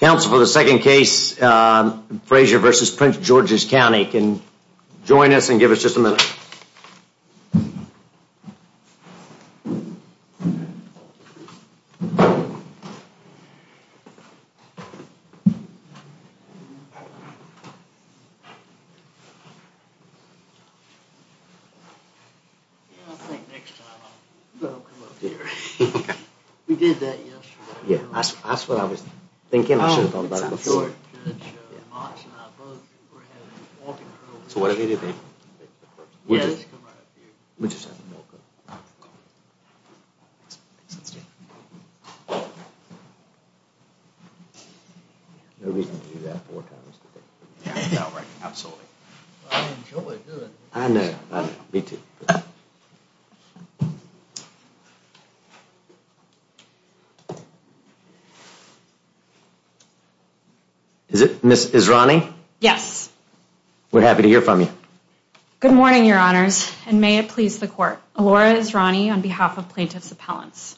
Counsel for the second case, Frazier v. Prince George's County, can join us and give us a moment of silence to hear from the plaintiff's appellant. Is it Miss is Ronnie? Yes. We're happy to hear from you. Good morning, your honors. And may it please the court. Laura is Ronnie on behalf of plaintiff's appellants.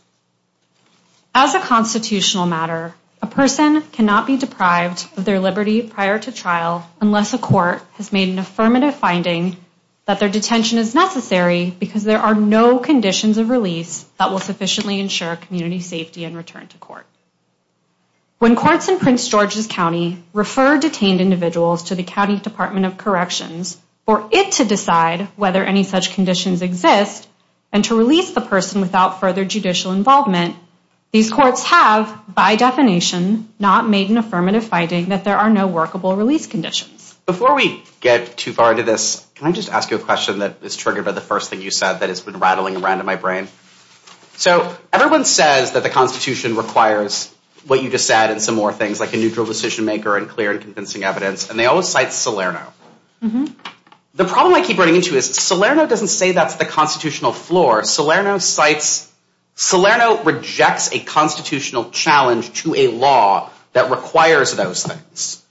As a constitutional matter, a person cannot be deprived of their liberty prior to trial unless a court has made an affirmative finding that their detention is necessary because there are no conditions of release that will sufficiently ensure community safety and return to court. When courts in Prince George's County refer detained individuals to the County Department of Corrections for it to decide whether any such conditions exist and to release the person without further judicial involvement, these courts have, by definition, not made an affirmative finding that there are no workable release conditions. Before we get too far into this, can I just ask you a question that is triggered by the first thing you said that has been rattling around in my brain? So everyone says that the Constitution requires what you just said and some more things like a neutral decision maker and clear and convincing evidence, and they always cite Salerno. The problem I keep running into is Salerno doesn't say that's the constitutional floor. Salerno cites, Salerno rejects a constitutional challenge to a law that requires those things,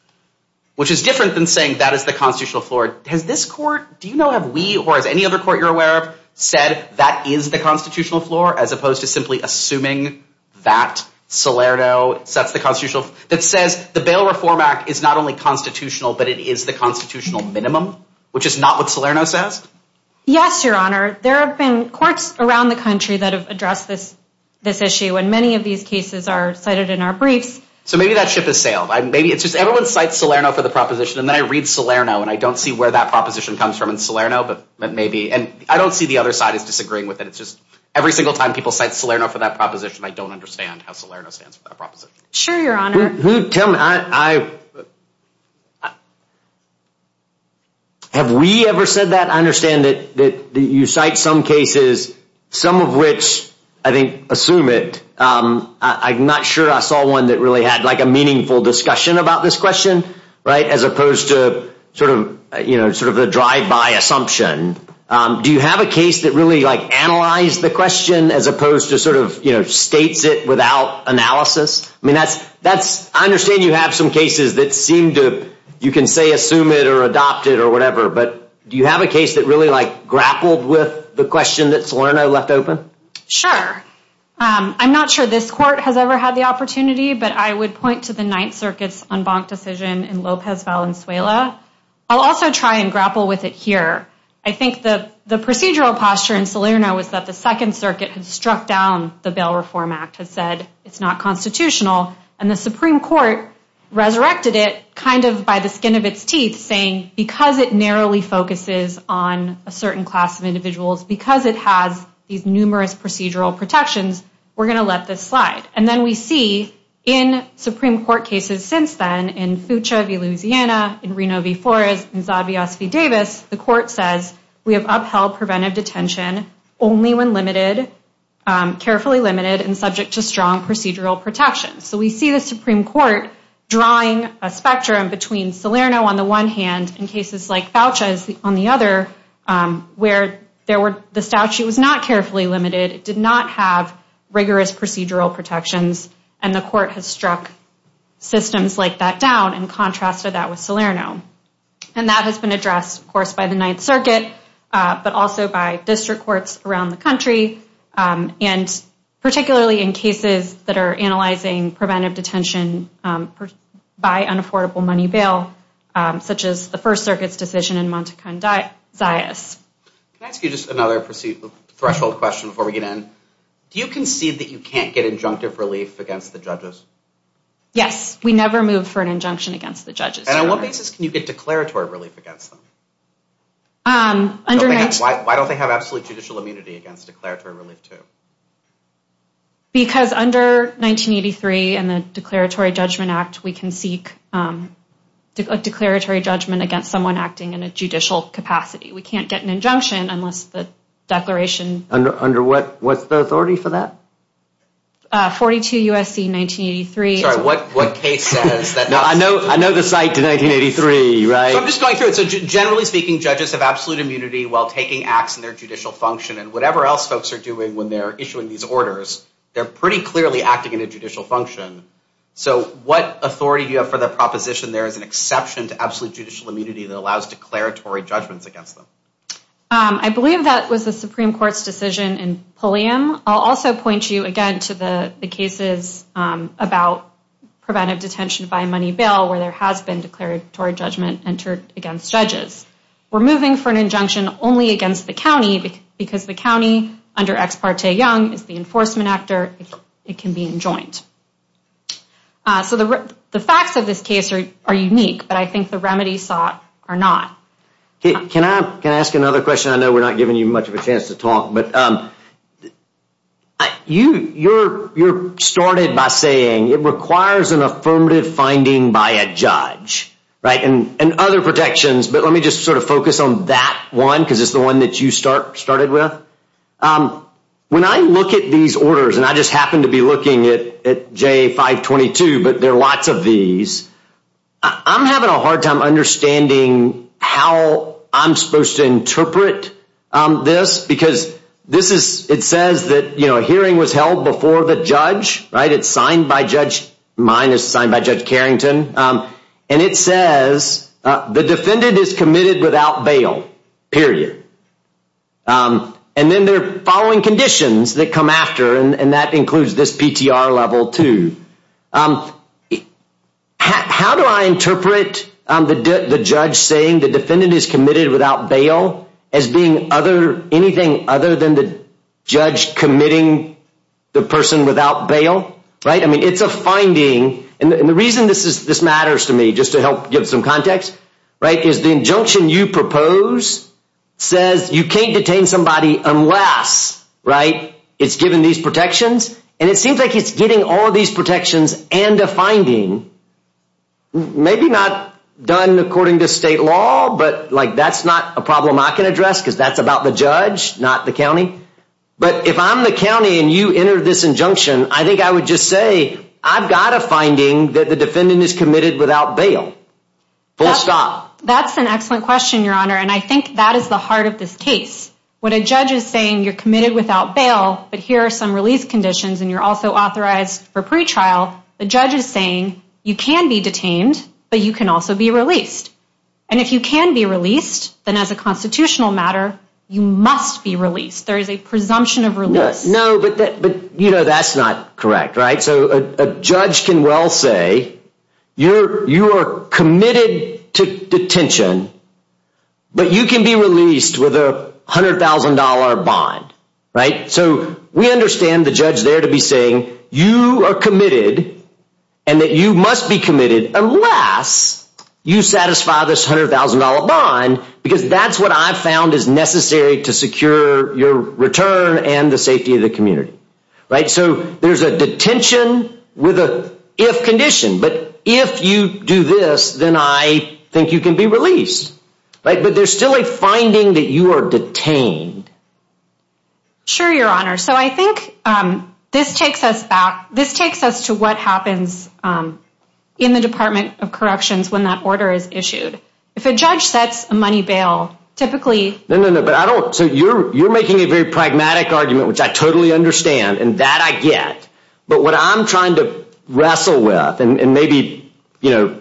which is different than saying that is the constitutional floor. Has this court, do you know, have we or has any other court you're aware of said that is the constitutional floor as opposed to simply assuming that Salerno sets the constitutional, that says the Bail Reform Act is not only constitutional, but it is the constitutional minimum, which is not what Salerno says? Yes, Your Honor. There have been courts around the country that have addressed this issue, and many of these cases are cited in our briefs. So maybe that ship has sailed. Maybe it's just everyone cites Salerno for the proposition, and then I read Salerno, and I don't see where that proposition comes from in Salerno, but maybe, and I don't see the other side as disagreeing with it. It's just every single time people cite Salerno for that proposition, I don't understand how Salerno stands for that proposition. Have we ever said that? I understand that you cite some cases, some of which I think assume it. I'm not sure I saw one that really had like a meaningful discussion about this question, right, as opposed to sort of, you know, sort of a drive by assumption. Do you have a case that really, like, analyzed the question as opposed to sort of, you know, states it without analysis? I mean, that's, I understand you have some cases that seem to, you can say assume it or adopt it or whatever, but do you have a case that really, like, grappled with the question that Salerno left open? Sure. I'm not sure this court has ever had the opportunity, but I would point to the Ninth Circuit's unbunked decision in Lopez Valenzuela. I'll also try and grapple with it here. I think the procedural posture in Salerno was that the Second Circuit had struck down the Bail Reform Act, had said it's not constitutional, and the Supreme Court resurrected it kind of by the skin of its teeth, saying because it narrowly focuses on a certain class of individuals, because it has these numerous, you know, groups of individuals, it's not constitutional. And so, because of the numerous procedural protections, we're going to let this slide. And then we see in Supreme Court cases since then, in Fucha v. Louisiana, in Reno v. Forrest, in Zabios v. Davis, the court says, we have upheld preventive detention only when limited, carefully limited, and subject to strong procedural protections. So we see the Supreme Court drawing a spectrum between Salerno, on the one hand, and cases like Fucha's on the other, where the statute was not carefully limited, it did not have rigorous procedural protections, and the court has struck systems like that down in contrast to that with Salerno. And that has been addressed, of course, by the Ninth Circuit, but also by district courts around the country, and particularly in cases that are analyzing preventive detention by unaffordable money bail, such as the First Circuit's decision in Montecan, Zaius. Can I ask you just another threshold question before we get in? Do you concede that you can't get injunctive relief against the judges? Yes, we never move for an injunction against the judges. And on what basis can you get declaratory relief against them? Why don't they have absolute judicial immunity against declaratory relief, too? Because under 1983 and the Declaratory Judgment Act, we can seek a declaratory judgment against someone acting in a judicial capacity. We can't get an injunction unless the declaration… Under what's the authority for that? 42 U.S.C. 1983. Sorry, what case says that that's… No, I know the site to 1983, right? So I'm just going through it. So generally speaking, judges have absolute immunity while taking acts in their judicial function. And whatever else folks are doing when they're issuing these orders, they're pretty clearly acting in a judicial function. So what authority do you have for the proposition there is an exception to absolute judicial immunity that allows declaratory judgments against them? I believe that was the Supreme Court's decision in Pulliam. I'll also point you again to the cases about preventive detention by money bail where there has been declaratory judgment entered against judges. We're moving for an injunction only against the county because the county, under Ex Parte Young, is the enforcement actor. It can be enjoined. So the facts of this case are unique, but I think the remedies sought are not. Can I ask another question? I know we're not giving you much of a chance to talk, but you started by saying it requires an affirmative finding by a judge, right? And other protections, but let me just sort of focus on that one because it's the one that you started with. When I look at these orders, and I just happen to be looking at J522, but there are lots of these. I'm having a hard time understanding how I'm supposed to interpret this because it says that a hearing was held before the judge. It's signed by Judge Karrington, and it says the defendant is committed without bail, period. And then they're following conditions that come after, and that includes this PTR level too. How do I interpret the judge saying the defendant is committed without bail as being anything other than the judge committing the person without bail? It's a finding, and the reason this matters to me, just to help give some context, is the injunction you propose says you can't detain somebody unless it's given these protections. And it seems like it's getting all of these protections and a finding, maybe not done according to state law, but that's not a problem I can address because that's about the judge, not the county. But if I'm the county and you enter this injunction, I think I would just say, I've got a finding that the defendant is committed without bail, full stop. That's an excellent question, Your Honor, and I think that is the heart of this case. When a judge is saying you're committed without bail, but here are some release conditions and you're also authorized for pretrial, the judge is saying you can be detained, but you can also be released. And if you can be released, then as a constitutional matter, you must be released. There is a presumption of release. No, but that's not correct, right? So a judge can well say you are committed to detention, but you can be released with a $100,000 bond, right? So we understand the judge there to be saying you are committed and that you must be committed unless you satisfy this $100,000 bond, because that's what I've found is necessary to secure your return and the safety of the community, right? So there's a detention with an if condition, but if you do this, then I think you can be released, right? But there's still a finding that you are detained. Sure, Your Honor. So I think this takes us back. This takes us to what happens in the Department of Corrections when that order is issued. If a judge sets a money bail, typically. No, no, no, but I don't. So you're making a very pragmatic argument, which I totally understand, and that I get. But what I'm trying to wrestle with, and maybe the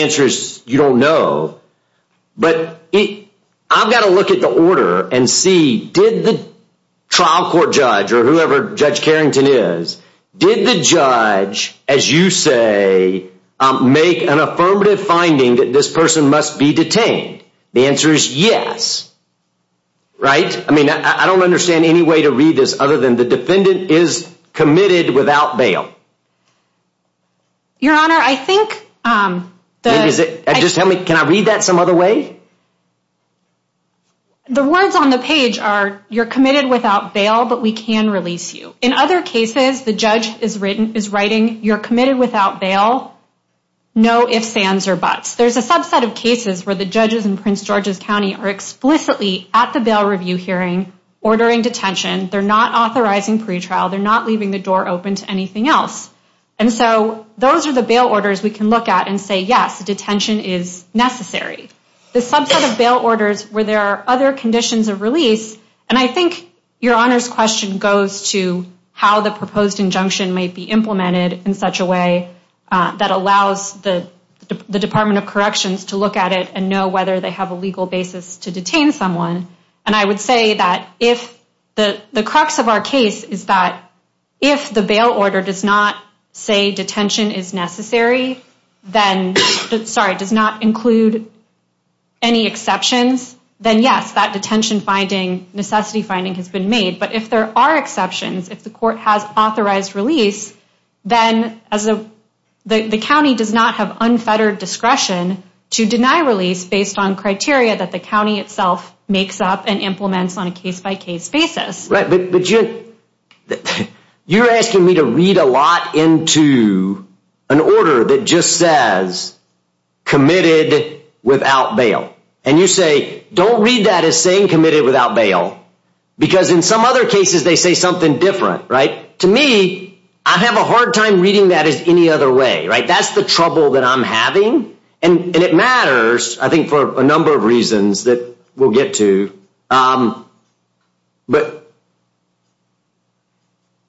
answer is you don't know, but I've got to look at the order and see, did the trial court judge or whoever Judge Carrington is, did the judge, as you say, make an affirmative finding that this person must be detained? The answer is yes, right? I mean, I don't understand any way to read this other than the defendant is committed without bail. Your Honor, I think. Just tell me, can I read that some other way? The words on the page are you're committed without bail, but we can release you. In other cases, the judge is written is writing you're committed without bail. No ifs, ands, or buts. There's a subset of cases where the judges in Prince George's County are explicitly at the bail review hearing ordering detention. They're not authorizing pretrial. They're not leaving the door open to anything else. And so those are the bail orders we can look at and say, yes, detention is necessary. The subset of bail orders where there are other conditions of release, and I think your Honor's question goes to how the proposed injunction may be implemented in such a way that allows the Department of Corrections to look at it and know whether they have a legal basis to detain someone. And I would say that if the crux of our case is that if the bail order does not say detention is necessary, then sorry, does not include any exceptions, then yes, that detention finding necessity finding has been made. But if there are exceptions, if the court has authorized release, then as the county does not have unfettered discretion to deny release based on criteria that the county itself makes up and implements on a case by case basis. Right. But you're asking me to read a lot into an order that just says committed without bail. And you say, don't read that as saying committed without bail, because in some other cases they say something different. Right. To me, I have a hard time reading that as any other way. Right. That's the trouble that I'm having. And it matters, I think, for a number of reasons that we'll get to. But.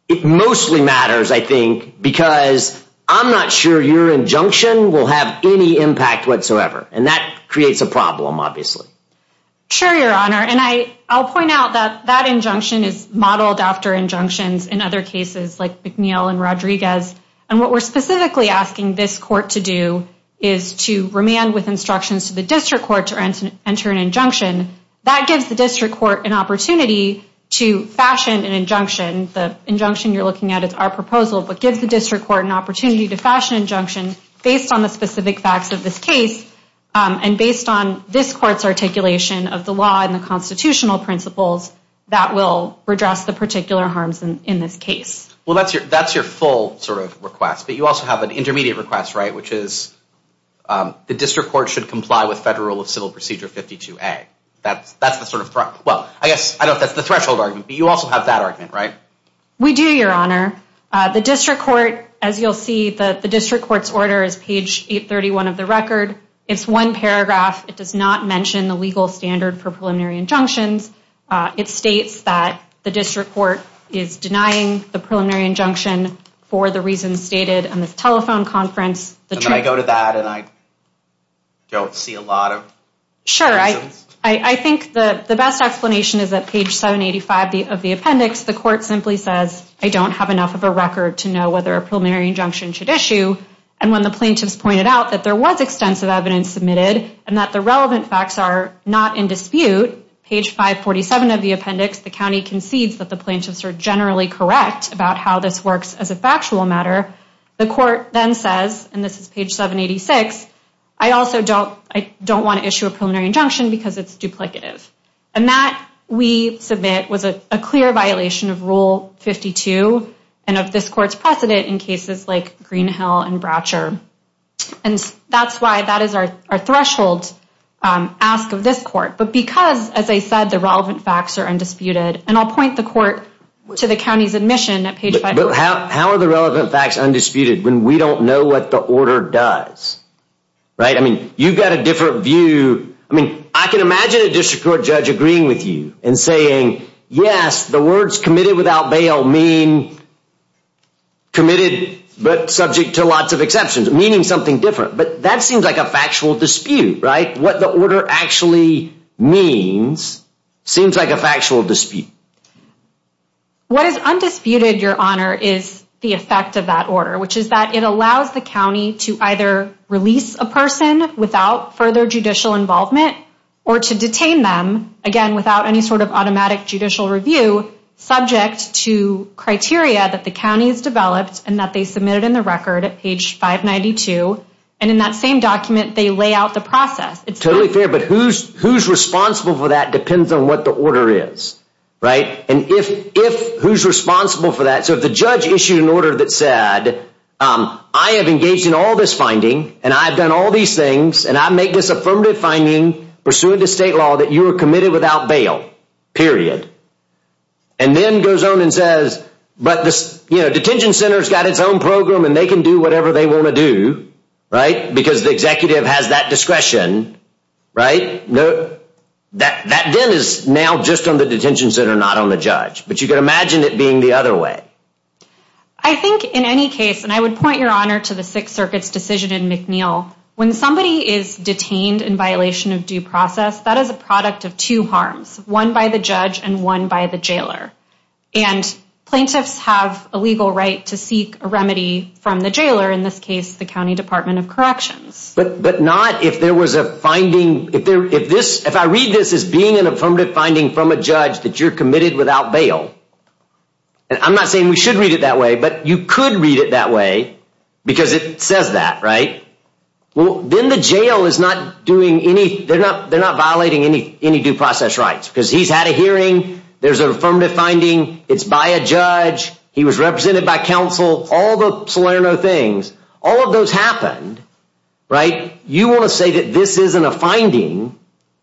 It mostly matters, I think, because I'm not sure your injunction will have any impact whatsoever. And that creates a problem, obviously. Sure, Your Honor. And I I'll point out that that injunction is modeled after injunctions in other cases like McNeil and Rodriguez. And what we're specifically asking this court to do is to remand with instructions to the district court to enter an injunction that gives the district court an opportunity to fashion an injunction. The injunction you're looking at is our proposal, but gives the district court an opportunity to fashion injunction based on the specific facts of this case and based on this court's articulation of the law and the constitutional principles that will redress the particular harms in this case. Well, that's your that's your full sort of request. But you also have an intermediate request, right, which is the district court should comply with federal civil procedure. That's that's the sort of threat. Well, I guess I know that's the threshold argument, but you also have that argument, right? We do, Your Honor. The district court, as you'll see, the district court's order is page 831 of the record. It's one paragraph. It does not mention the legal standard for preliminary injunctions. It states that the district court is denying the preliminary injunction for the reasons stated on this telephone conference. And then I go to that and I don't see a lot of. Sure. I think the best explanation is that page 785 of the appendix, the court simply says, I don't have enough of a record to know whether a preliminary injunction should issue. And when the plaintiffs pointed out that there was extensive evidence submitted and that the relevant facts are not in dispute, page 547 of the appendix, the county concedes that the plaintiffs are generally correct about how this works as a factual matter. The court then says, and this is page 786, I also don't I don't want to issue a preliminary injunction because it's duplicative. And that we submit was a clear violation of Rule 52 and of this court's precedent in cases like Greenhill and Bratcher. And that's why that is our threshold ask of this court. But because, as I said, the relevant facts are undisputed and I'll point the court to the county's admission at page. But how are the relevant facts undisputed when we don't know what the order does? Right. I mean, you've got a different view. I mean, I can imagine a district court judge agreeing with you and saying, yes, the words committed without bail mean. Committed, but subject to lots of exceptions, meaning something different, but that seems like a factual dispute, right? What the order actually means seems like a factual dispute. What is undisputed, your honor, is the effect of that order, which is that it allows the county to either release a person without further judicial involvement or to detain them again without any sort of automatic judicial review. Subject to criteria that the county has developed and that they submitted in the record at page 592. And in that same document, they lay out the process. It's totally fair, but who's who's responsible for that depends on what the order is. Right. And if if who's responsible for that. So if the judge issued an order that said, I have engaged in all this finding and I've done all these things and I make this affirmative finding pursuant to state law that you are committed without bail, period. And then goes on and says, but this detention center has got its own program and they can do whatever they want to do. Right. Because the executive has that discretion. Right. That then is now just on the detention center, not on the judge. But you can imagine it being the other way. I think in any case, and I would point your honor to the Sixth Circuit's decision in McNeil, when somebody is detained in violation of due process, that is a product of two harms, one by the judge and one by the jailer. And plaintiffs have a legal right to seek a remedy from the jailer, in this case, the County Department of Corrections. But but not if there was a finding. If there if this if I read this as being an affirmative finding from a judge that you're committed without bail. And I'm not saying we should read it that way, but you could read it that way because it says that. Right. Well, then the jail is not doing any they're not they're not violating any any due process rights because he's had a hearing. There's an affirmative finding. It's by a judge. He was represented by counsel. All the Salerno things. All of those happened. Right. You want to say that this isn't a finding.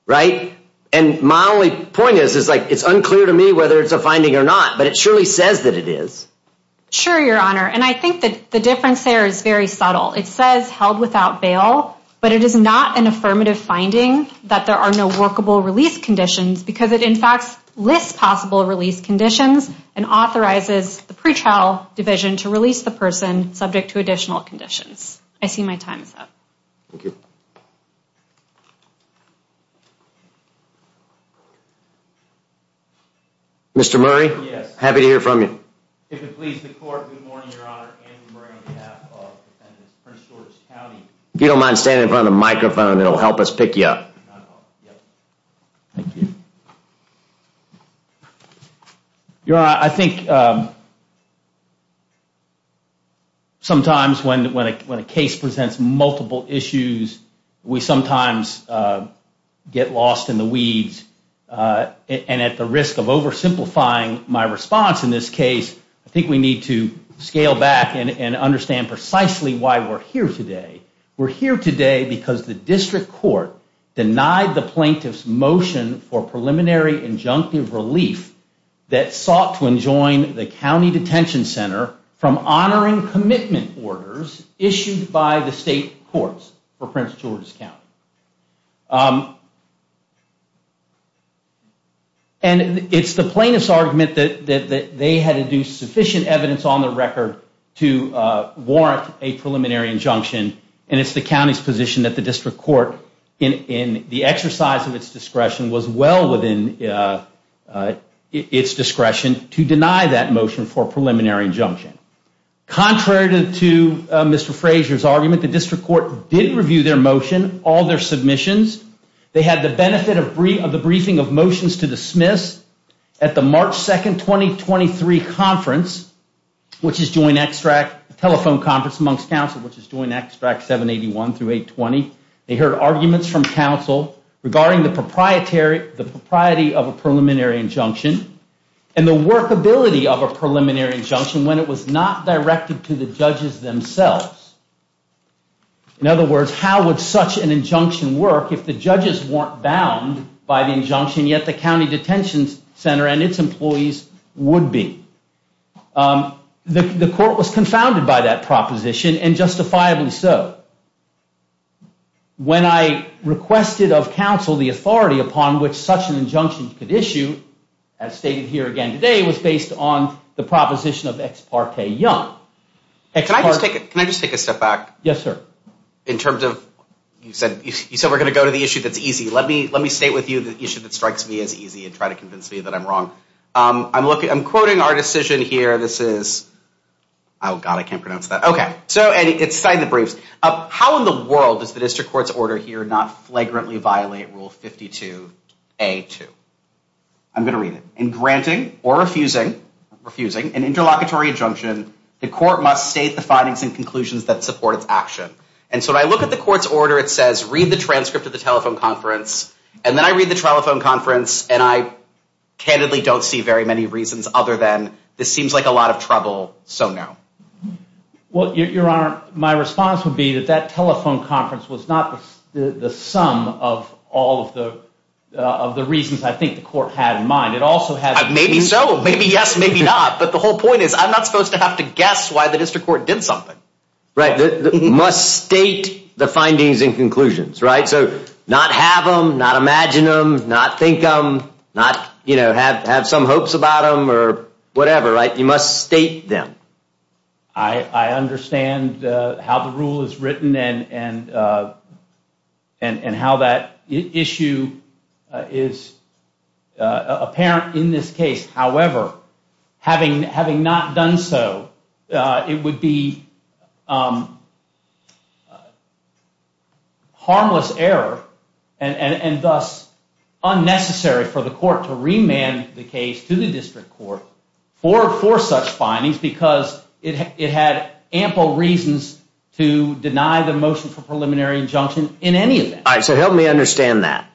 Right. And my only point is, is like it's unclear to me whether it's a finding or not, but it surely says that it is. Sure, Your Honor. And I think that the difference there is very subtle. It says held without bail. But it is not an affirmative finding that there are no workable release conditions because it, in fact, lists possible release conditions and authorizes the pretrial division to release the person subject to additional conditions. I see my time is up. Thank you. Mr. Murray. Yes. Happy to hear from you. If it pleases the court. Good morning, Your Honor. If you don't mind standing in front of the microphone, it'll help us pick you up. Thank you. Your I think. Sometimes when when when a case presents multiple issues, we sometimes get lost in the weeds and at the risk of oversimplifying. My response in this case, I think we need to scale back and understand precisely why we're here today. We're here today because the district court denied the plaintiff's motion for preliminary injunctive relief that sought to enjoin the county detention center from honoring commitment orders issued by the state courts for Prince George's County. And it's the plaintiff's argument that they had to do sufficient evidence on the record to warrant a preliminary injunction. And it's the county's position that the district court in the exercise of its discretion was well within its discretion to deny that motion for preliminary injunction. Contrary to Mr. Frazier's argument, the district court did review their motion, all their submissions. They had the benefit of the briefing of motions to dismiss at the March 2nd, 2023 conference, which is joint extract telephone conference amongst counsel, which is doing extract 781 through 820. They heard arguments from counsel regarding the proprietary the propriety of a preliminary injunction and the workability of a preliminary injunction when it was not directed to the judges themselves. In other words, how would such an injunction work if the judges weren't bound by the injunction, yet the county detention center and its employees would be? The court was confounded by that proposition, and justifiably so. When I requested of counsel the authority upon which such an injunction could issue, as stated here again today, it was based on the proposition of Ex parte Young. Can I just take a step back? Yes, sir. In terms of, you said we're going to go to the issue that's easy. Let me state with you the issue that strikes me as easy and try to convince me that I'm wrong. I'm quoting our decision here. This is, oh God, I can't pronounce that. Okay, so it's signed the briefs. How in the world does the district court's order here not flagrantly violate Rule 52A2? I'm going to read it. In granting or refusing an interlocutory injunction, the court must state the findings and conclusions that support its action. And so when I look at the court's order, it says read the transcript of the telephone conference, and then I read the telephone conference, and I candidly don't see very many reasons other than, this seems like a lot of trouble, so no. Well, Your Honor, my response would be that that telephone conference was not the sum of all of the reasons I think the court had in mind. Maybe so. Maybe yes, maybe not. But the whole point is I'm not supposed to have to guess why the district court did something. Right. Must state the findings and conclusions, right? So not have them, not imagine them, not think them, not have some hopes about them or whatever, right? You must state them. I understand how the rule is written and how that issue is apparent in this case. However, having not done so, it would be harmless error and thus unnecessary for the court to remand the case to the district court for such findings because it had ample reasons to deny the motion for preliminary injunction in any event. All right, so help me understand that.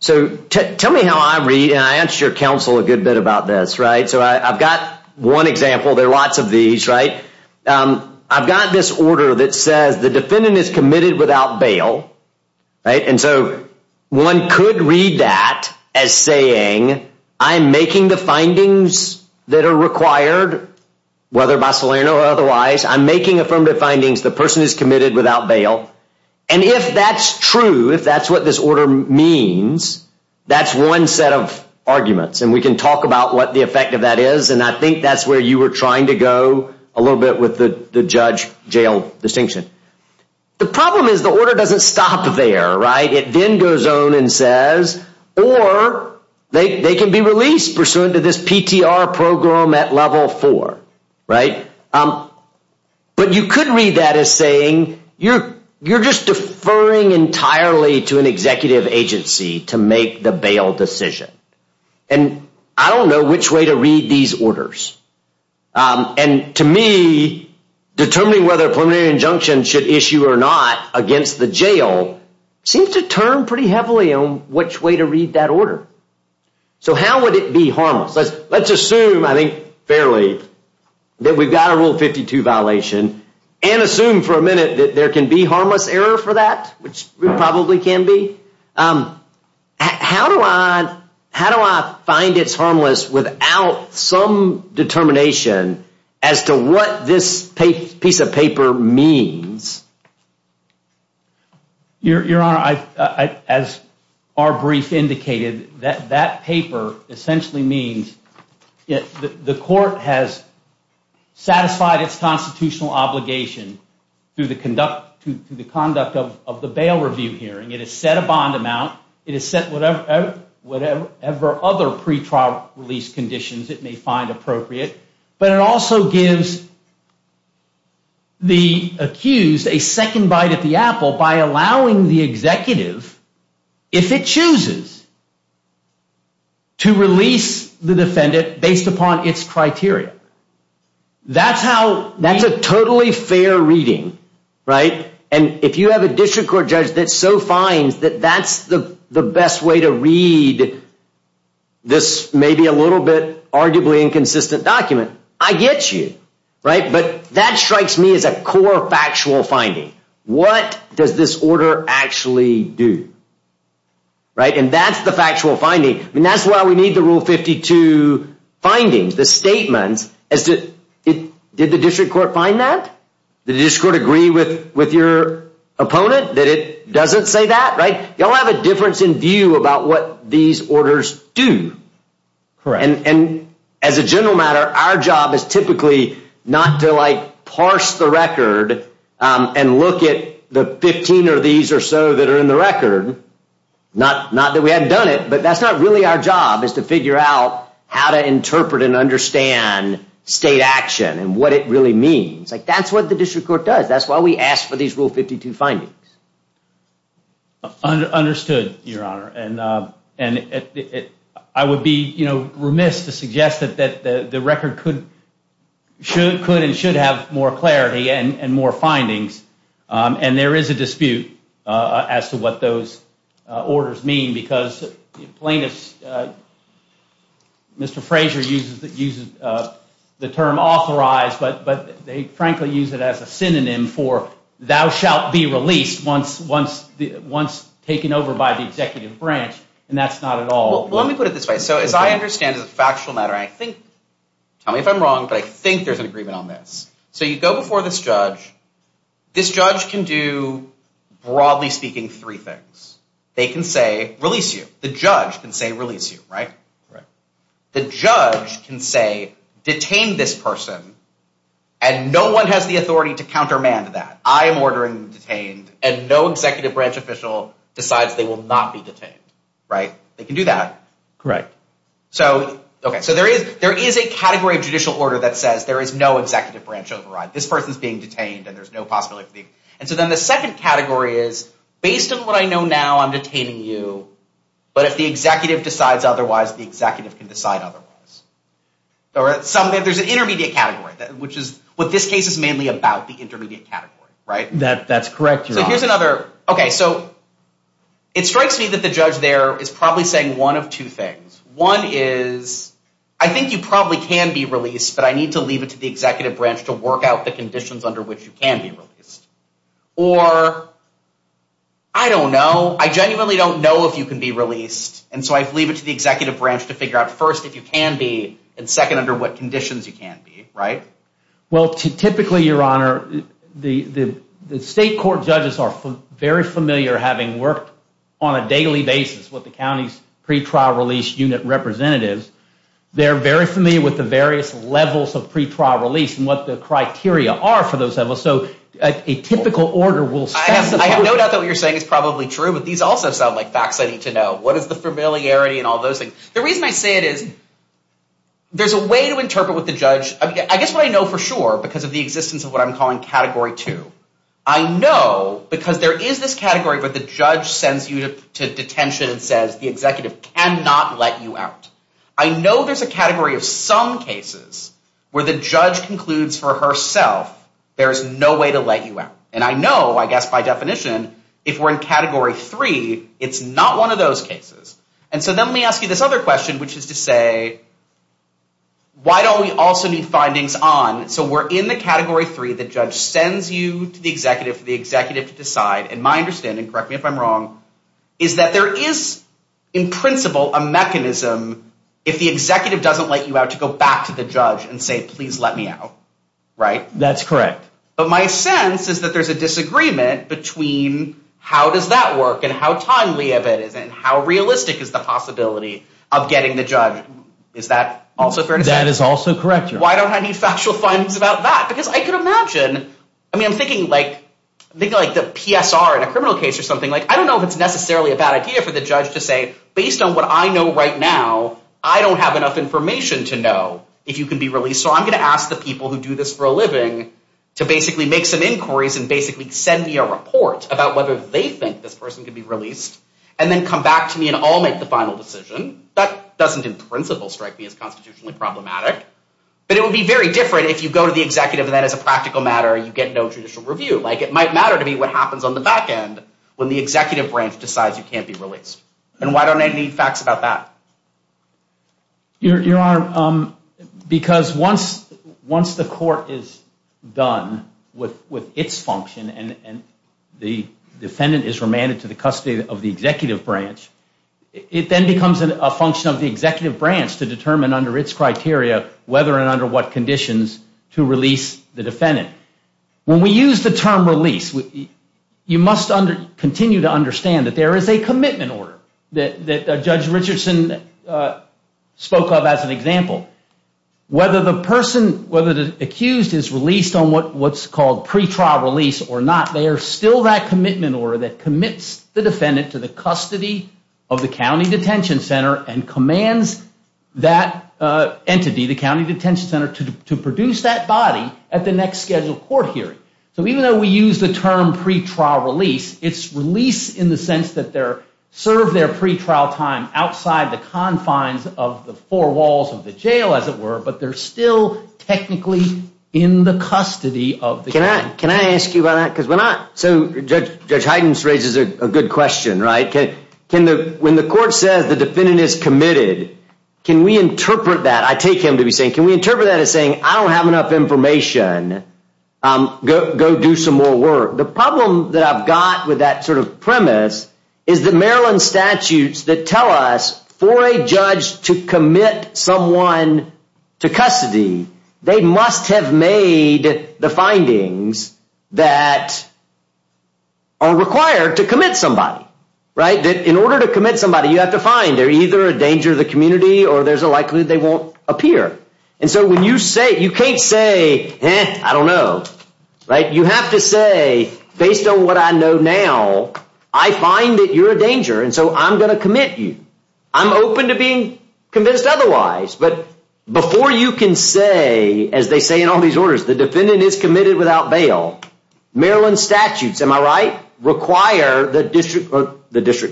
So tell me how I read, and I answered your counsel a good bit about this, right? So I've got one example. There are lots of these, right? I've got this order that says the defendant is committed without bail, right? And so one could read that as saying I'm making the findings that are required, whether by Solano or otherwise. I'm making affirmative findings. The person is committed without bail. And if that's true, if that's what this order means, that's one set of arguments. And we can talk about what the effect of that is. And I think that's where you were trying to go a little bit with the judge-jail distinction. The problem is the order doesn't stop there, right? It then goes on and says, or they can be released pursuant to this PTR program at level four, right? But you could read that as saying you're just deferring entirely to an executive agency to make the bail decision. And I don't know which way to read these orders. And to me, determining whether a preliminary injunction should issue or not against the jail seems to turn pretty heavily on which way to read that order. So how would it be harmless? Let's assume, I think fairly, that we've got a Rule 52 violation and assume for a minute that there can be harmless error for that, which probably can be. How do I find it's harmless without some determination as to what this piece of paper means? Your Honor, as our brief indicated, that paper essentially means the court has satisfied its constitutional obligation through the conduct of the bail review hearing. It has set a bond amount. It has set whatever other pretrial release conditions it may find appropriate. But it also gives the accused a second bite at the apple by allowing the executive, if it chooses, to release the defendant based upon its criteria. That's a totally fair reading. And if you have a district court judge that so finds that that's the best way to read this maybe a little bit arguably inconsistent document, I get you. But that strikes me as a core factual finding. What does this order actually do? And that's the factual finding. And that's why we need the Rule 52 findings, the statements as to did the district court find that? Did the district court agree with your opponent that it doesn't say that, right? Y'all have a difference in view about what these orders do. Correct. And as a general matter, our job is typically not to like parse the record and look at the 15 or these or so that are in the record. Not that we haven't done it, but that's not really our job is to figure out how to interpret and understand state action and what it really means. Like, that's what the district court does. That's why we asked for these Rule 52 findings. Understood, Your Honor. And I would be remiss to suggest that the record could and should have more clarity and more findings. And there is a dispute as to what those orders mean because plaintiffs, Mr. Frazier uses the term authorized, but they frankly use it as a synonym for thou shalt be released once taken over by the executive branch. And that's not at all. Well, let me put it this way. So as I understand it as a factual matter, I think, tell me if I'm wrong, but I think there's an agreement on this. So you go before this judge. This judge can do, broadly speaking, three things. They can say, release you. The judge can say, release you, right? The judge can say, detain this person, and no one has the authority to countermand that. I am ordering them detained, and no executive branch official decides they will not be detained, right? They can do that. Correct. So there is a category of judicial order that says there is no executive branch override. This person is being detained, and there's no possibility. And so then the second category is, based on what I know now, I'm detaining you, but if the executive decides otherwise, the executive can decide otherwise. There's an intermediate category, which is what this case is mainly about, the intermediate category, right? That's correct, Your Honor. Okay, so it strikes me that the judge there is probably saying one of two things. One is, I think you probably can be released, but I need to leave it to the executive branch to work out the conditions under which you can be released. Or, I don't know. I genuinely don't know if you can be released, and so I leave it to the executive branch to figure out, first, if you can be, and second, under what conditions you can be, right? Well, typically, Your Honor, the state court judges are very familiar, having worked on a daily basis with the county's pretrial release unit representatives, they're very familiar with the various levels of pretrial release and what the criteria are for those levels. So a typical order will specify… I have no doubt that what you're saying is probably true, but these also sound like facts I need to know. What is the familiarity and all those things? The reason I say it is there's a way to interpret what the judge… I guess what I know for sure, because of the existence of what I'm calling Category 2, I know because there is this category where the judge sends you to detention and says the executive cannot let you out. I know there's a category of some cases where the judge concludes for herself there is no way to let you out. And I know, I guess by definition, if we're in Category 3, it's not one of those cases. And so then let me ask you this other question, which is to say, why don't we also need findings on… So we're in the Category 3, the judge sends you to the executive for the executive to decide, and my understanding, correct me if I'm wrong, is that there is in principle a mechanism if the executive doesn't let you out to go back to the judge and say, please let me out. Right? That's correct. But my sense is that there's a disagreement between how does that work and how timely of it is and how realistic is the possibility of getting the judge. Is that also fair to say? That is also correct. Why don't I need factual findings about that? Because I could imagine, I mean, I'm thinking like the PSR in a criminal case or something. I don't know if it's necessarily a bad idea for the judge to say, based on what I know right now, I don't have enough information to know if you can be released. So I'm going to ask the people who do this for a living to basically make some inquiries and basically send me a report about whether they think this person can be released and then come back to me and I'll make the final decision. That doesn't in principle strike me as constitutionally problematic. But it would be very different if you go to the executive and then as a practical matter you get no judicial review. Like it might matter to me what happens on the back end when the executive branch decides you can't be released. And why don't I need facts about that? Your Honor, because once the court is done with its function and the defendant is remanded to the custody of the executive branch, it then becomes a function of the executive branch to determine under its criteria whether and under what conditions to release the defendant. When we use the term release, you must continue to understand that there is a commitment order that Judge Richardson spoke of as an example. Whether the person, whether the accused is released on what's called pre-trial release or not, they are still that commitment order that commits the defendant to the custody of the county detention center and commands that entity, the county detention center, to produce that body at the next scheduled court hearing. So even though we use the term pre-trial release, it's release in the sense that they serve their pre-trial time outside the confines of the four walls of the jail, as it were, but they're still technically in the custody of the county. Can I ask you about that? Because when I, so Judge Hydens raises a good question, right? When the court says the defendant is committed, can we interpret that? I take him to be saying, can we interpret that as saying, I don't have enough information. Go do some more work. The problem that I've got with that sort of premise is the Maryland statutes that tell us for a judge to commit someone to custody, they must have made the findings that are required to commit somebody, right? That in order to commit somebody, you have to find they're either a danger to the community or there's a likelihood they won't appear. And so when you say, you can't say, I don't know, right? You have to say, based on what I know now, I find that you're a danger, and so I'm going to commit you. I'm open to being convinced otherwise. But before you can say, as they say in all these orders, the defendant is committed without bail, Maryland statutes, am I right, require the district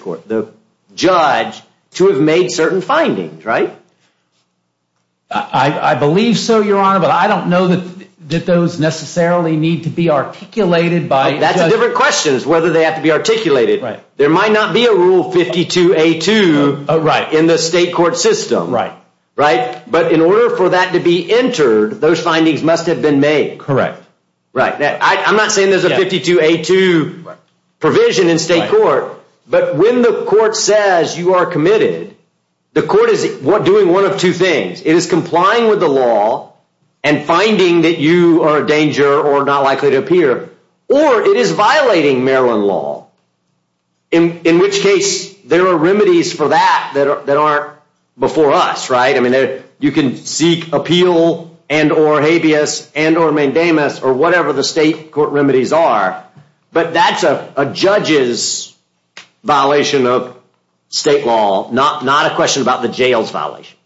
court, the judge, to have made certain findings, right? I believe so, Your Honor, but I don't know that those necessarily need to be articulated by... That's a different question, is whether they have to be articulated. There might not be a Rule 52A2 in the state court system, right? But in order for that to be entered, those findings must have been made. Correct. I'm not saying there's a 52A2 provision in state court, but when the court says you are committed, the court is doing one of two things. It is complying with the law and finding that you are a danger or not likely to appear, or it is violating Maryland law, in which case there are remedies for that that aren't before us, right? I mean, you can seek appeal and or habeas and or mandamus or whatever the state court remedies are, but that's a judge's violation of state law, not a question about the jail's violation.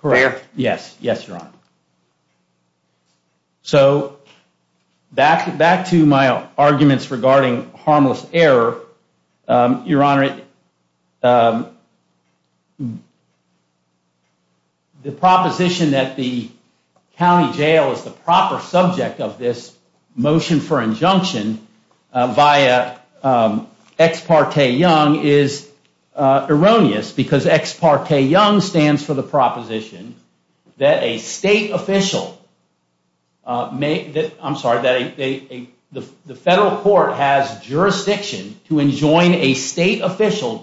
Correct, yes, yes, Your Honor. So back to my arguments regarding harmless error, Your Honor, the proposition that the county jail is the proper subject of this motion for injunction via Ex parte Young is erroneous because Ex parte Young stands for the proposition that a state official may...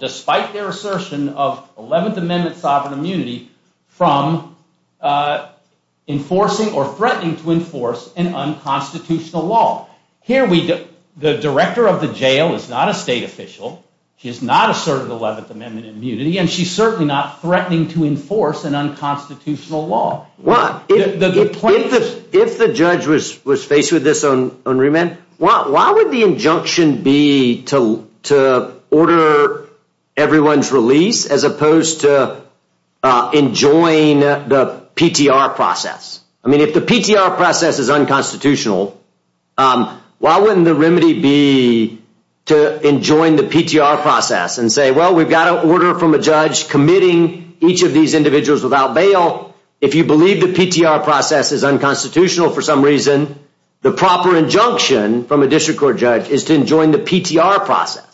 despite their assertion of 11th Amendment sovereign immunity from enforcing or threatening to enforce an unconstitutional law. Here, the director of the jail is not a state official. She has not asserted 11th Amendment immunity, and she's certainly not threatening to enforce an unconstitutional law. If the judge was faced with this on remand, why would the injunction be to order everyone's release as opposed to enjoin the PTR process? I mean, if the PTR process is unconstitutional, why wouldn't the remedy be to enjoin the PTR process and say, well, we've got an order from a judge committing each of these individuals without bail. If you believe the PTR process is unconstitutional for some reason, the proper injunction from a district court judge is to enjoin the PTR process.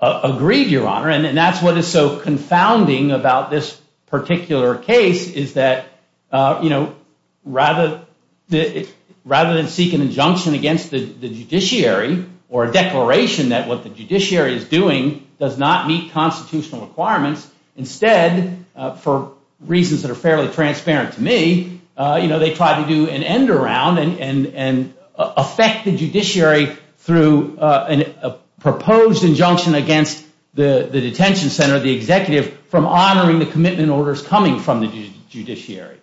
Agreed, Your Honor, and that's what is so confounding about this particular case, is that rather than seek an injunction against the judiciary or a declaration that what the judiciary is doing does not meet constitutional requirements, instead, for reasons that are fairly transparent to me, they try to do an end around and affect the judiciary through a proposed injunction against the detention center, the executive, from honoring the commitment orders coming from the judiciary.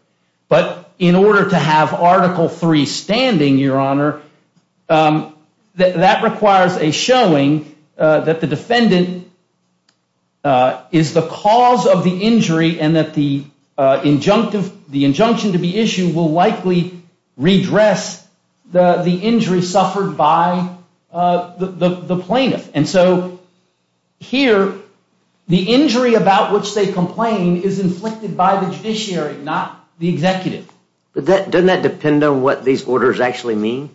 But in order to have Article III standing, Your Honor, that requires a showing that the defendant is the cause of the injury and that the injunction to be issued will likely redress the injury suffered by the plaintiff. And so here, the injury about which they complain is inflicted by the judiciary, not the executive. But doesn't that depend on what these orders actually mean?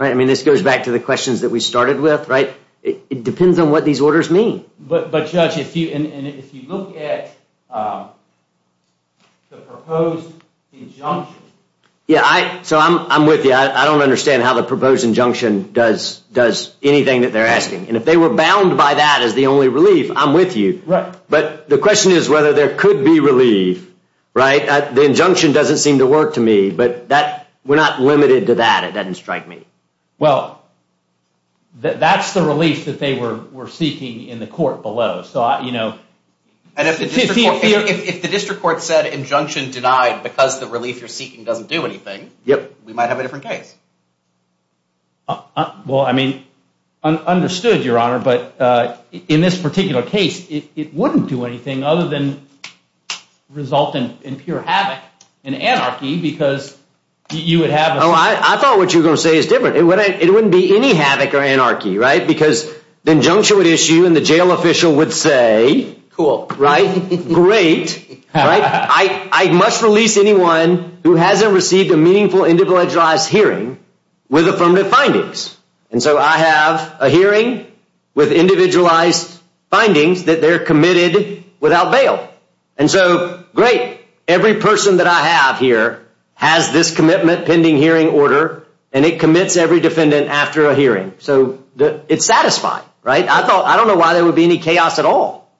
I mean, this goes back to the questions that we started with, right? It depends on what these orders mean. But, Judge, if you look at the proposed injunction… Yeah, so I'm with you. I don't understand how the proposed injunction does anything that they're asking. And if they were bound by that as the only relief, I'm with you. But the question is whether there could be relief, right? The injunction doesn't seem to work to me, but we're not limited to that. It doesn't strike me. Well, that's the relief that they were seeking in the court below. And if the district court said injunction denied because the relief you're seeking doesn't do anything, we might have a different case. Well, I mean, understood, Your Honor. But in this particular case, it wouldn't do anything other than result in pure havoc and anarchy because you would have… Oh, I thought what you were going to say is different. It wouldn't be any havoc or anarchy, right? Because the injunction would issue and the jail official would say… Cool. Right? Great. I must release anyone who hasn't received a meaningful individualized hearing with affirmative findings. And so I have a hearing with individualized findings that they're committed without bail. And so, great. Every person that I have here has this commitment pending hearing order, and it commits every defendant after a hearing. So it's satisfying, right? I don't know why there would be any chaos at all.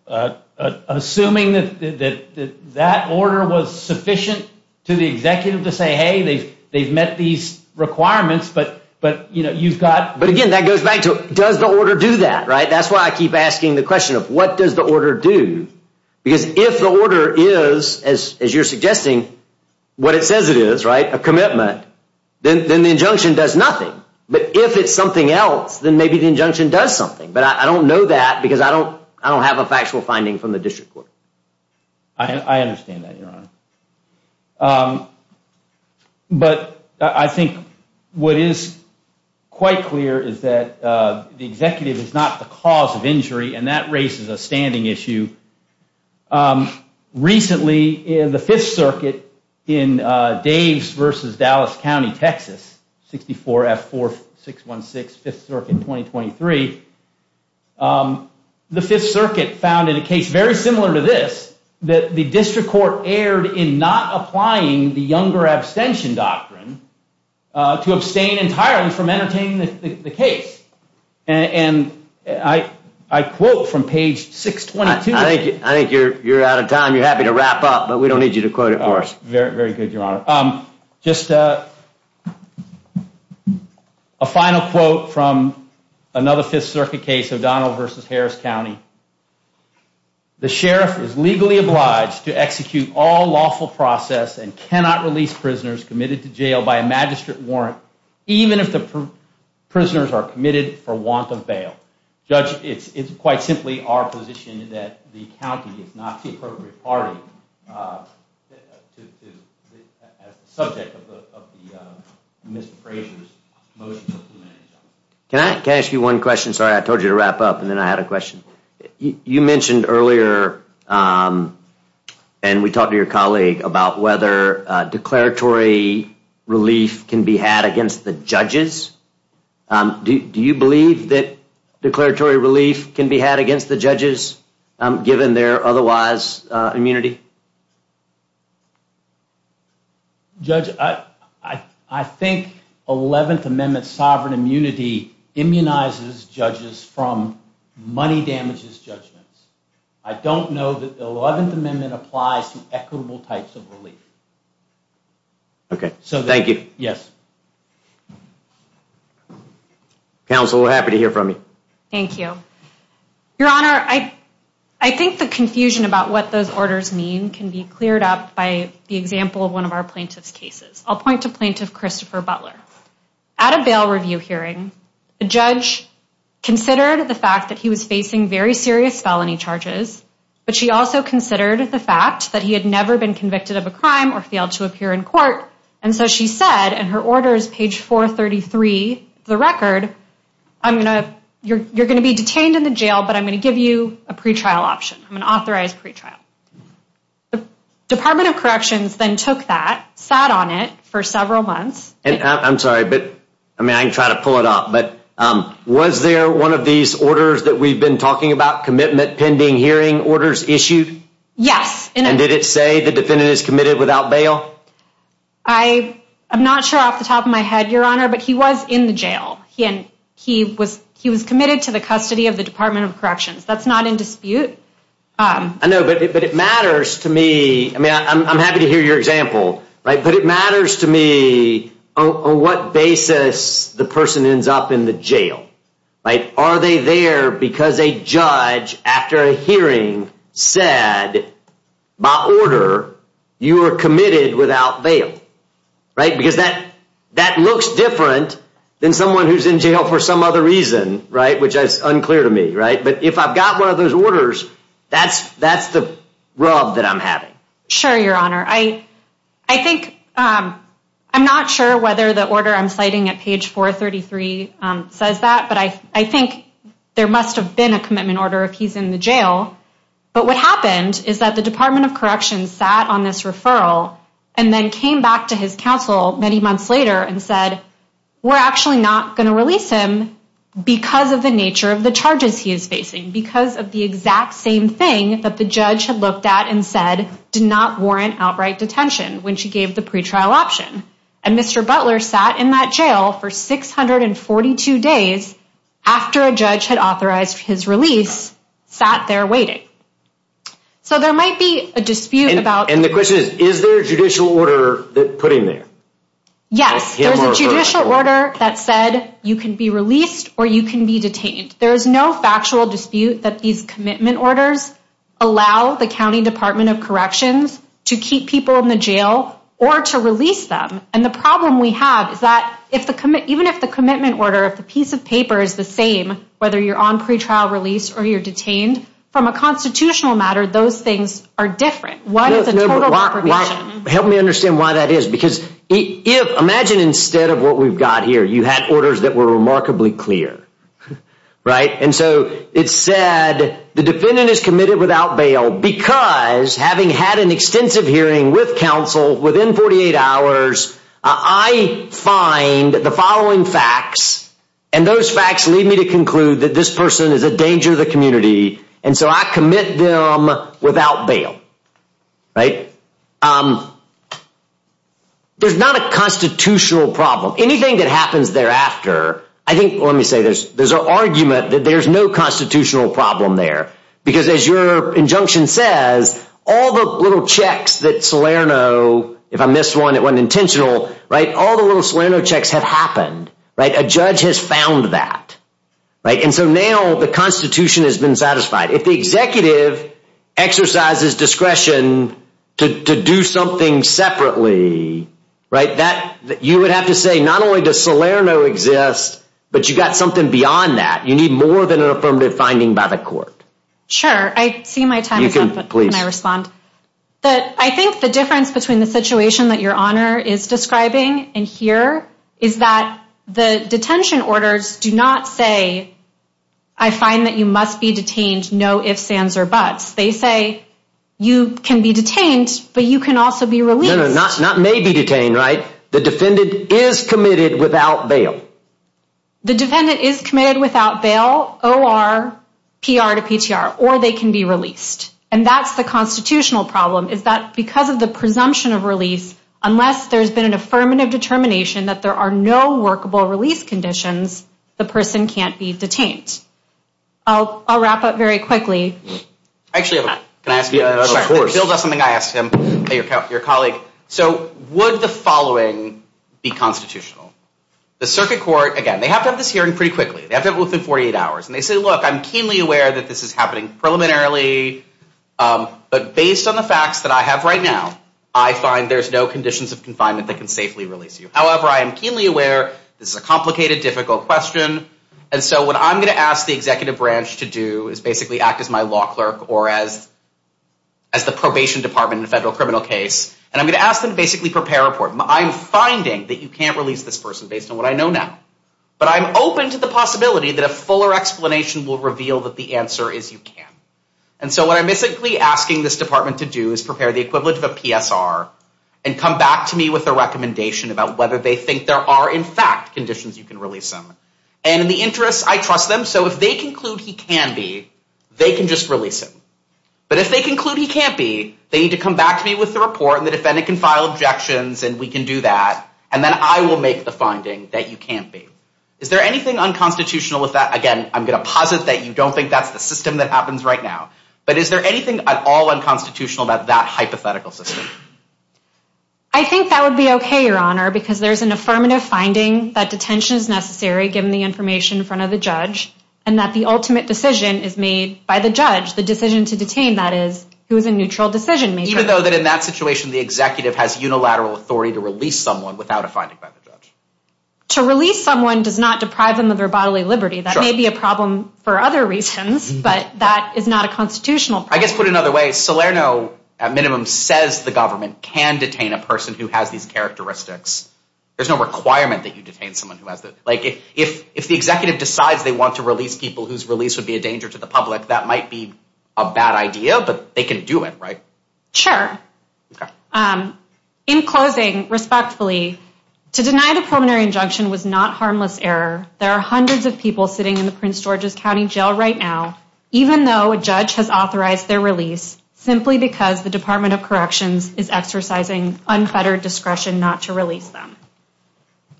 Assuming that that order was sufficient to the executive to say, hey, they've met these requirements, but you've got… But again, that goes back to does the order do that, right? That's why I keep asking the question of what does the order do? Because if the order is, as you're suggesting, what it says it is, right, a commitment, then the injunction does nothing. But if it's something else, then maybe the injunction does something. But I don't know that because I don't have a factual finding from the district court. I understand that, Your Honor. But I think what is quite clear is that the executive is not the cause of injury, and that raises a standing issue. Recently, in the Fifth Circuit in Daves v. Dallas County, Texas, 64F4616, Fifth Circuit, 2023, the Fifth Circuit found in a case very similar to this that the district court erred in not applying the younger abstention doctrine to abstain entirely from entertaining the case. And I quote from page 622. I think you're out of time. You're happy to wrap up, but we don't need you to quote it for us. Very good, Your Honor. Just a final quote from another Fifth Circuit case, O'Donnell v. Harris County. The sheriff is legally obliged to execute all lawful process and cannot release prisoners committed to jail by a magistrate warrant even if the prisoners are committed for want of bail. Judge, it's quite simply our position that the county is not the appropriate party as the subject of Mr. Fraser's motion. Can I ask you one question? Sorry, I told you to wrap up, and then I had a question. You mentioned earlier, and we talked to your colleague, about whether declaratory relief can be had against the judges. Do you believe that declaratory relief can be had against the judges given their otherwise immunity? Judge, I think Eleventh Amendment sovereign immunity immunizes judges from money damages judgments. I don't know that the Eleventh Amendment applies to equitable types of relief. Okay, thank you. Yes. Counsel, happy to hear from you. Thank you. Your Honor, I think the confusion about what those orders mean can be cleared up by the example of one of our plaintiff's cases. I'll point to plaintiff Christopher Butler. At a bail review hearing, the judge considered the fact that he was facing very serious felony charges, but she also considered the fact that he had never been convicted of a crime or failed to appear in court, and so she said in her orders, page 433 of the record, you're going to be detained in the jail, but I'm going to give you a pre-trial option, an authorized pre-trial. The Department of Corrections then took that, sat on it for several months. I'm sorry, but I can try to pull it up, but was there one of these orders that we've been talking about, commitment pending hearing orders issued? Yes. And did it say the defendant is committed without bail? I'm not sure off the top of my head, Your Honor, but he was in the jail. He was committed to the custody of the Department of Corrections. That's not in dispute. I know, but it matters to me. I'm happy to hear your example, but it matters to me on what basis the person ends up in the jail. Are they there because a judge, after a hearing, said, by order, you are committed without bail? Because that looks different than someone who's in jail for some other reason, which is unclear to me. But if I've got one of those orders, that's the rub that I'm having. Sure, Your Honor. I think, I'm not sure whether the order I'm citing at page 433 says that, but I think there must have been a commitment order if he's in the jail. But what happened is that the Department of Corrections sat on this referral and then came back to his counsel many months later and said, we're actually not going to release him because of the nature of the charges he is facing, because of the exact same thing that the judge had looked at and said did not warrant outright detention when she gave the pretrial option. And Mr. Butler sat in that jail for 642 days after a judge had authorized his release, sat there waiting. So there might be a dispute about... And the question is, is there a judicial order put in there? Yes, there's a judicial order that said you can be released or you can be detained. There is no factual dispute that these commitment orders allow the County Department of Corrections to keep people in the jail or to release them. And the problem we have is that even if the commitment order, if the piece of paper is the same, whether you're on pretrial release or you're detained, from a constitutional matter, those things are different. One is a total deprivation. Help me understand why that is, because imagine instead of what we've got here, you had orders that were remarkably clear, right? And so it said the defendant is committed without bail because having had an extensive hearing with counsel within 48 hours, I find the following facts. And those facts lead me to conclude that this person is a danger to the community. And so I commit them without bail, right? There's not a constitutional problem. Anything that happens thereafter, I think, let me say, there's an argument that there's no constitutional problem there, because as your injunction says, all the little checks that Salerno, if I missed one, it wasn't intentional, right? All the little Salerno checks have happened, right? A judge has found that, right? And so now the Constitution has been satisfied. If the executive exercises discretion to do something separately, right, you would have to say not only does Salerno exist, but you've got something beyond that. You need more than an affirmative finding by the court. Sure. I see my time is up, but can I respond? Please. I think the difference between the situation that your Honor is describing and here is that the detention orders do not say, I find that you must be detained, no ifs, ands, or buts. They say you can be detained, but you can also be released. No, no, not may be detained, right? The defendant is committed without bail. The defendant is committed without bail, O.R., P.R. to P.T.R., or they can be released. And that's the constitutional problem is that because of the presumption of release, unless there's been an affirmative determination that there are no workable release conditions, the person can't be detained. I'll wrap up very quickly. Actually, can I ask you? Of course. Bill does something I asked him, your colleague. So would the following be constitutional? The circuit court, again, they have to have this hearing pretty quickly. They have to have it within 48 hours. And they say, look, I'm keenly aware that this is happening preliminarily, but based on the facts that I have right now, I find there's no conditions of confinement that can safely release you. However, I am keenly aware this is a complicated, difficult question, and so what I'm going to ask the executive branch to do is basically act as my law clerk or as the probation department in a federal criminal case, and I'm going to ask them to basically prepare a report. I'm finding that you can't release this person based on what I know now, but I'm open to the possibility that a fuller explanation will reveal that the answer is you can. And so what I'm basically asking this department to do is prepare the equivalent of a PSR and come back to me with a recommendation about whether they think there are, in fact, conditions you can release him. And in the interest, I trust them, so if they conclude he can be, they can just release him. But if they conclude he can't be, they need to come back to me with the report, and the defendant can file objections, and we can do that, and then I will make the finding that you can't be. Is there anything unconstitutional with that? Again, I'm going to posit that you don't think that's the system that happens right now, but is there anything at all unconstitutional about that hypothetical system? I think that would be okay, Your Honor, because there's an affirmative finding that detention is necessary, given the information in front of the judge, and that the ultimate decision is made by the judge. The decision to detain, that is, who is a neutral decision maker. Even though in that situation the executive has unilateral authority to release someone without a finding by the judge? To release someone does not deprive them of their bodily liberty. That may be a problem for other reasons, but that is not a constitutional problem. I guess, put another way, Salerno, at minimum, says the government can detain a person who has these characteristics. There's no requirement that you detain someone who has those. If the executive decides they want to release people whose release would be a danger to the public, that might be a bad idea, but they can do it, right? Sure. In closing, respectfully, to deny the preliminary injunction was not harmless error. There are hundreds of people sitting in the Prince George's County Jail right now, even though a judge has authorized their release, simply because the Department of Corrections is exercising unfettered discretion not to release them.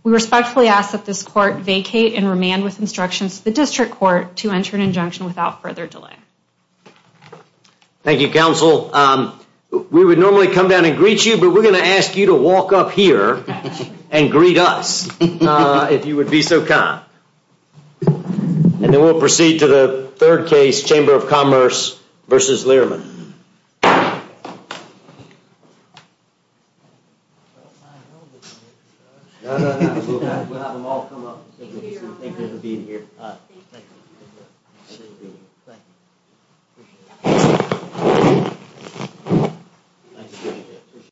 We respectfully ask that this court vacate and remand with instructions to the district court to enter an injunction without further delay. Thank you, counsel. We would normally come down and greet you, but we're going to ask you to walk up here and greet us, if you would be so kind. And then we'll proceed to the third case, Chamber of Commerce v. Learman.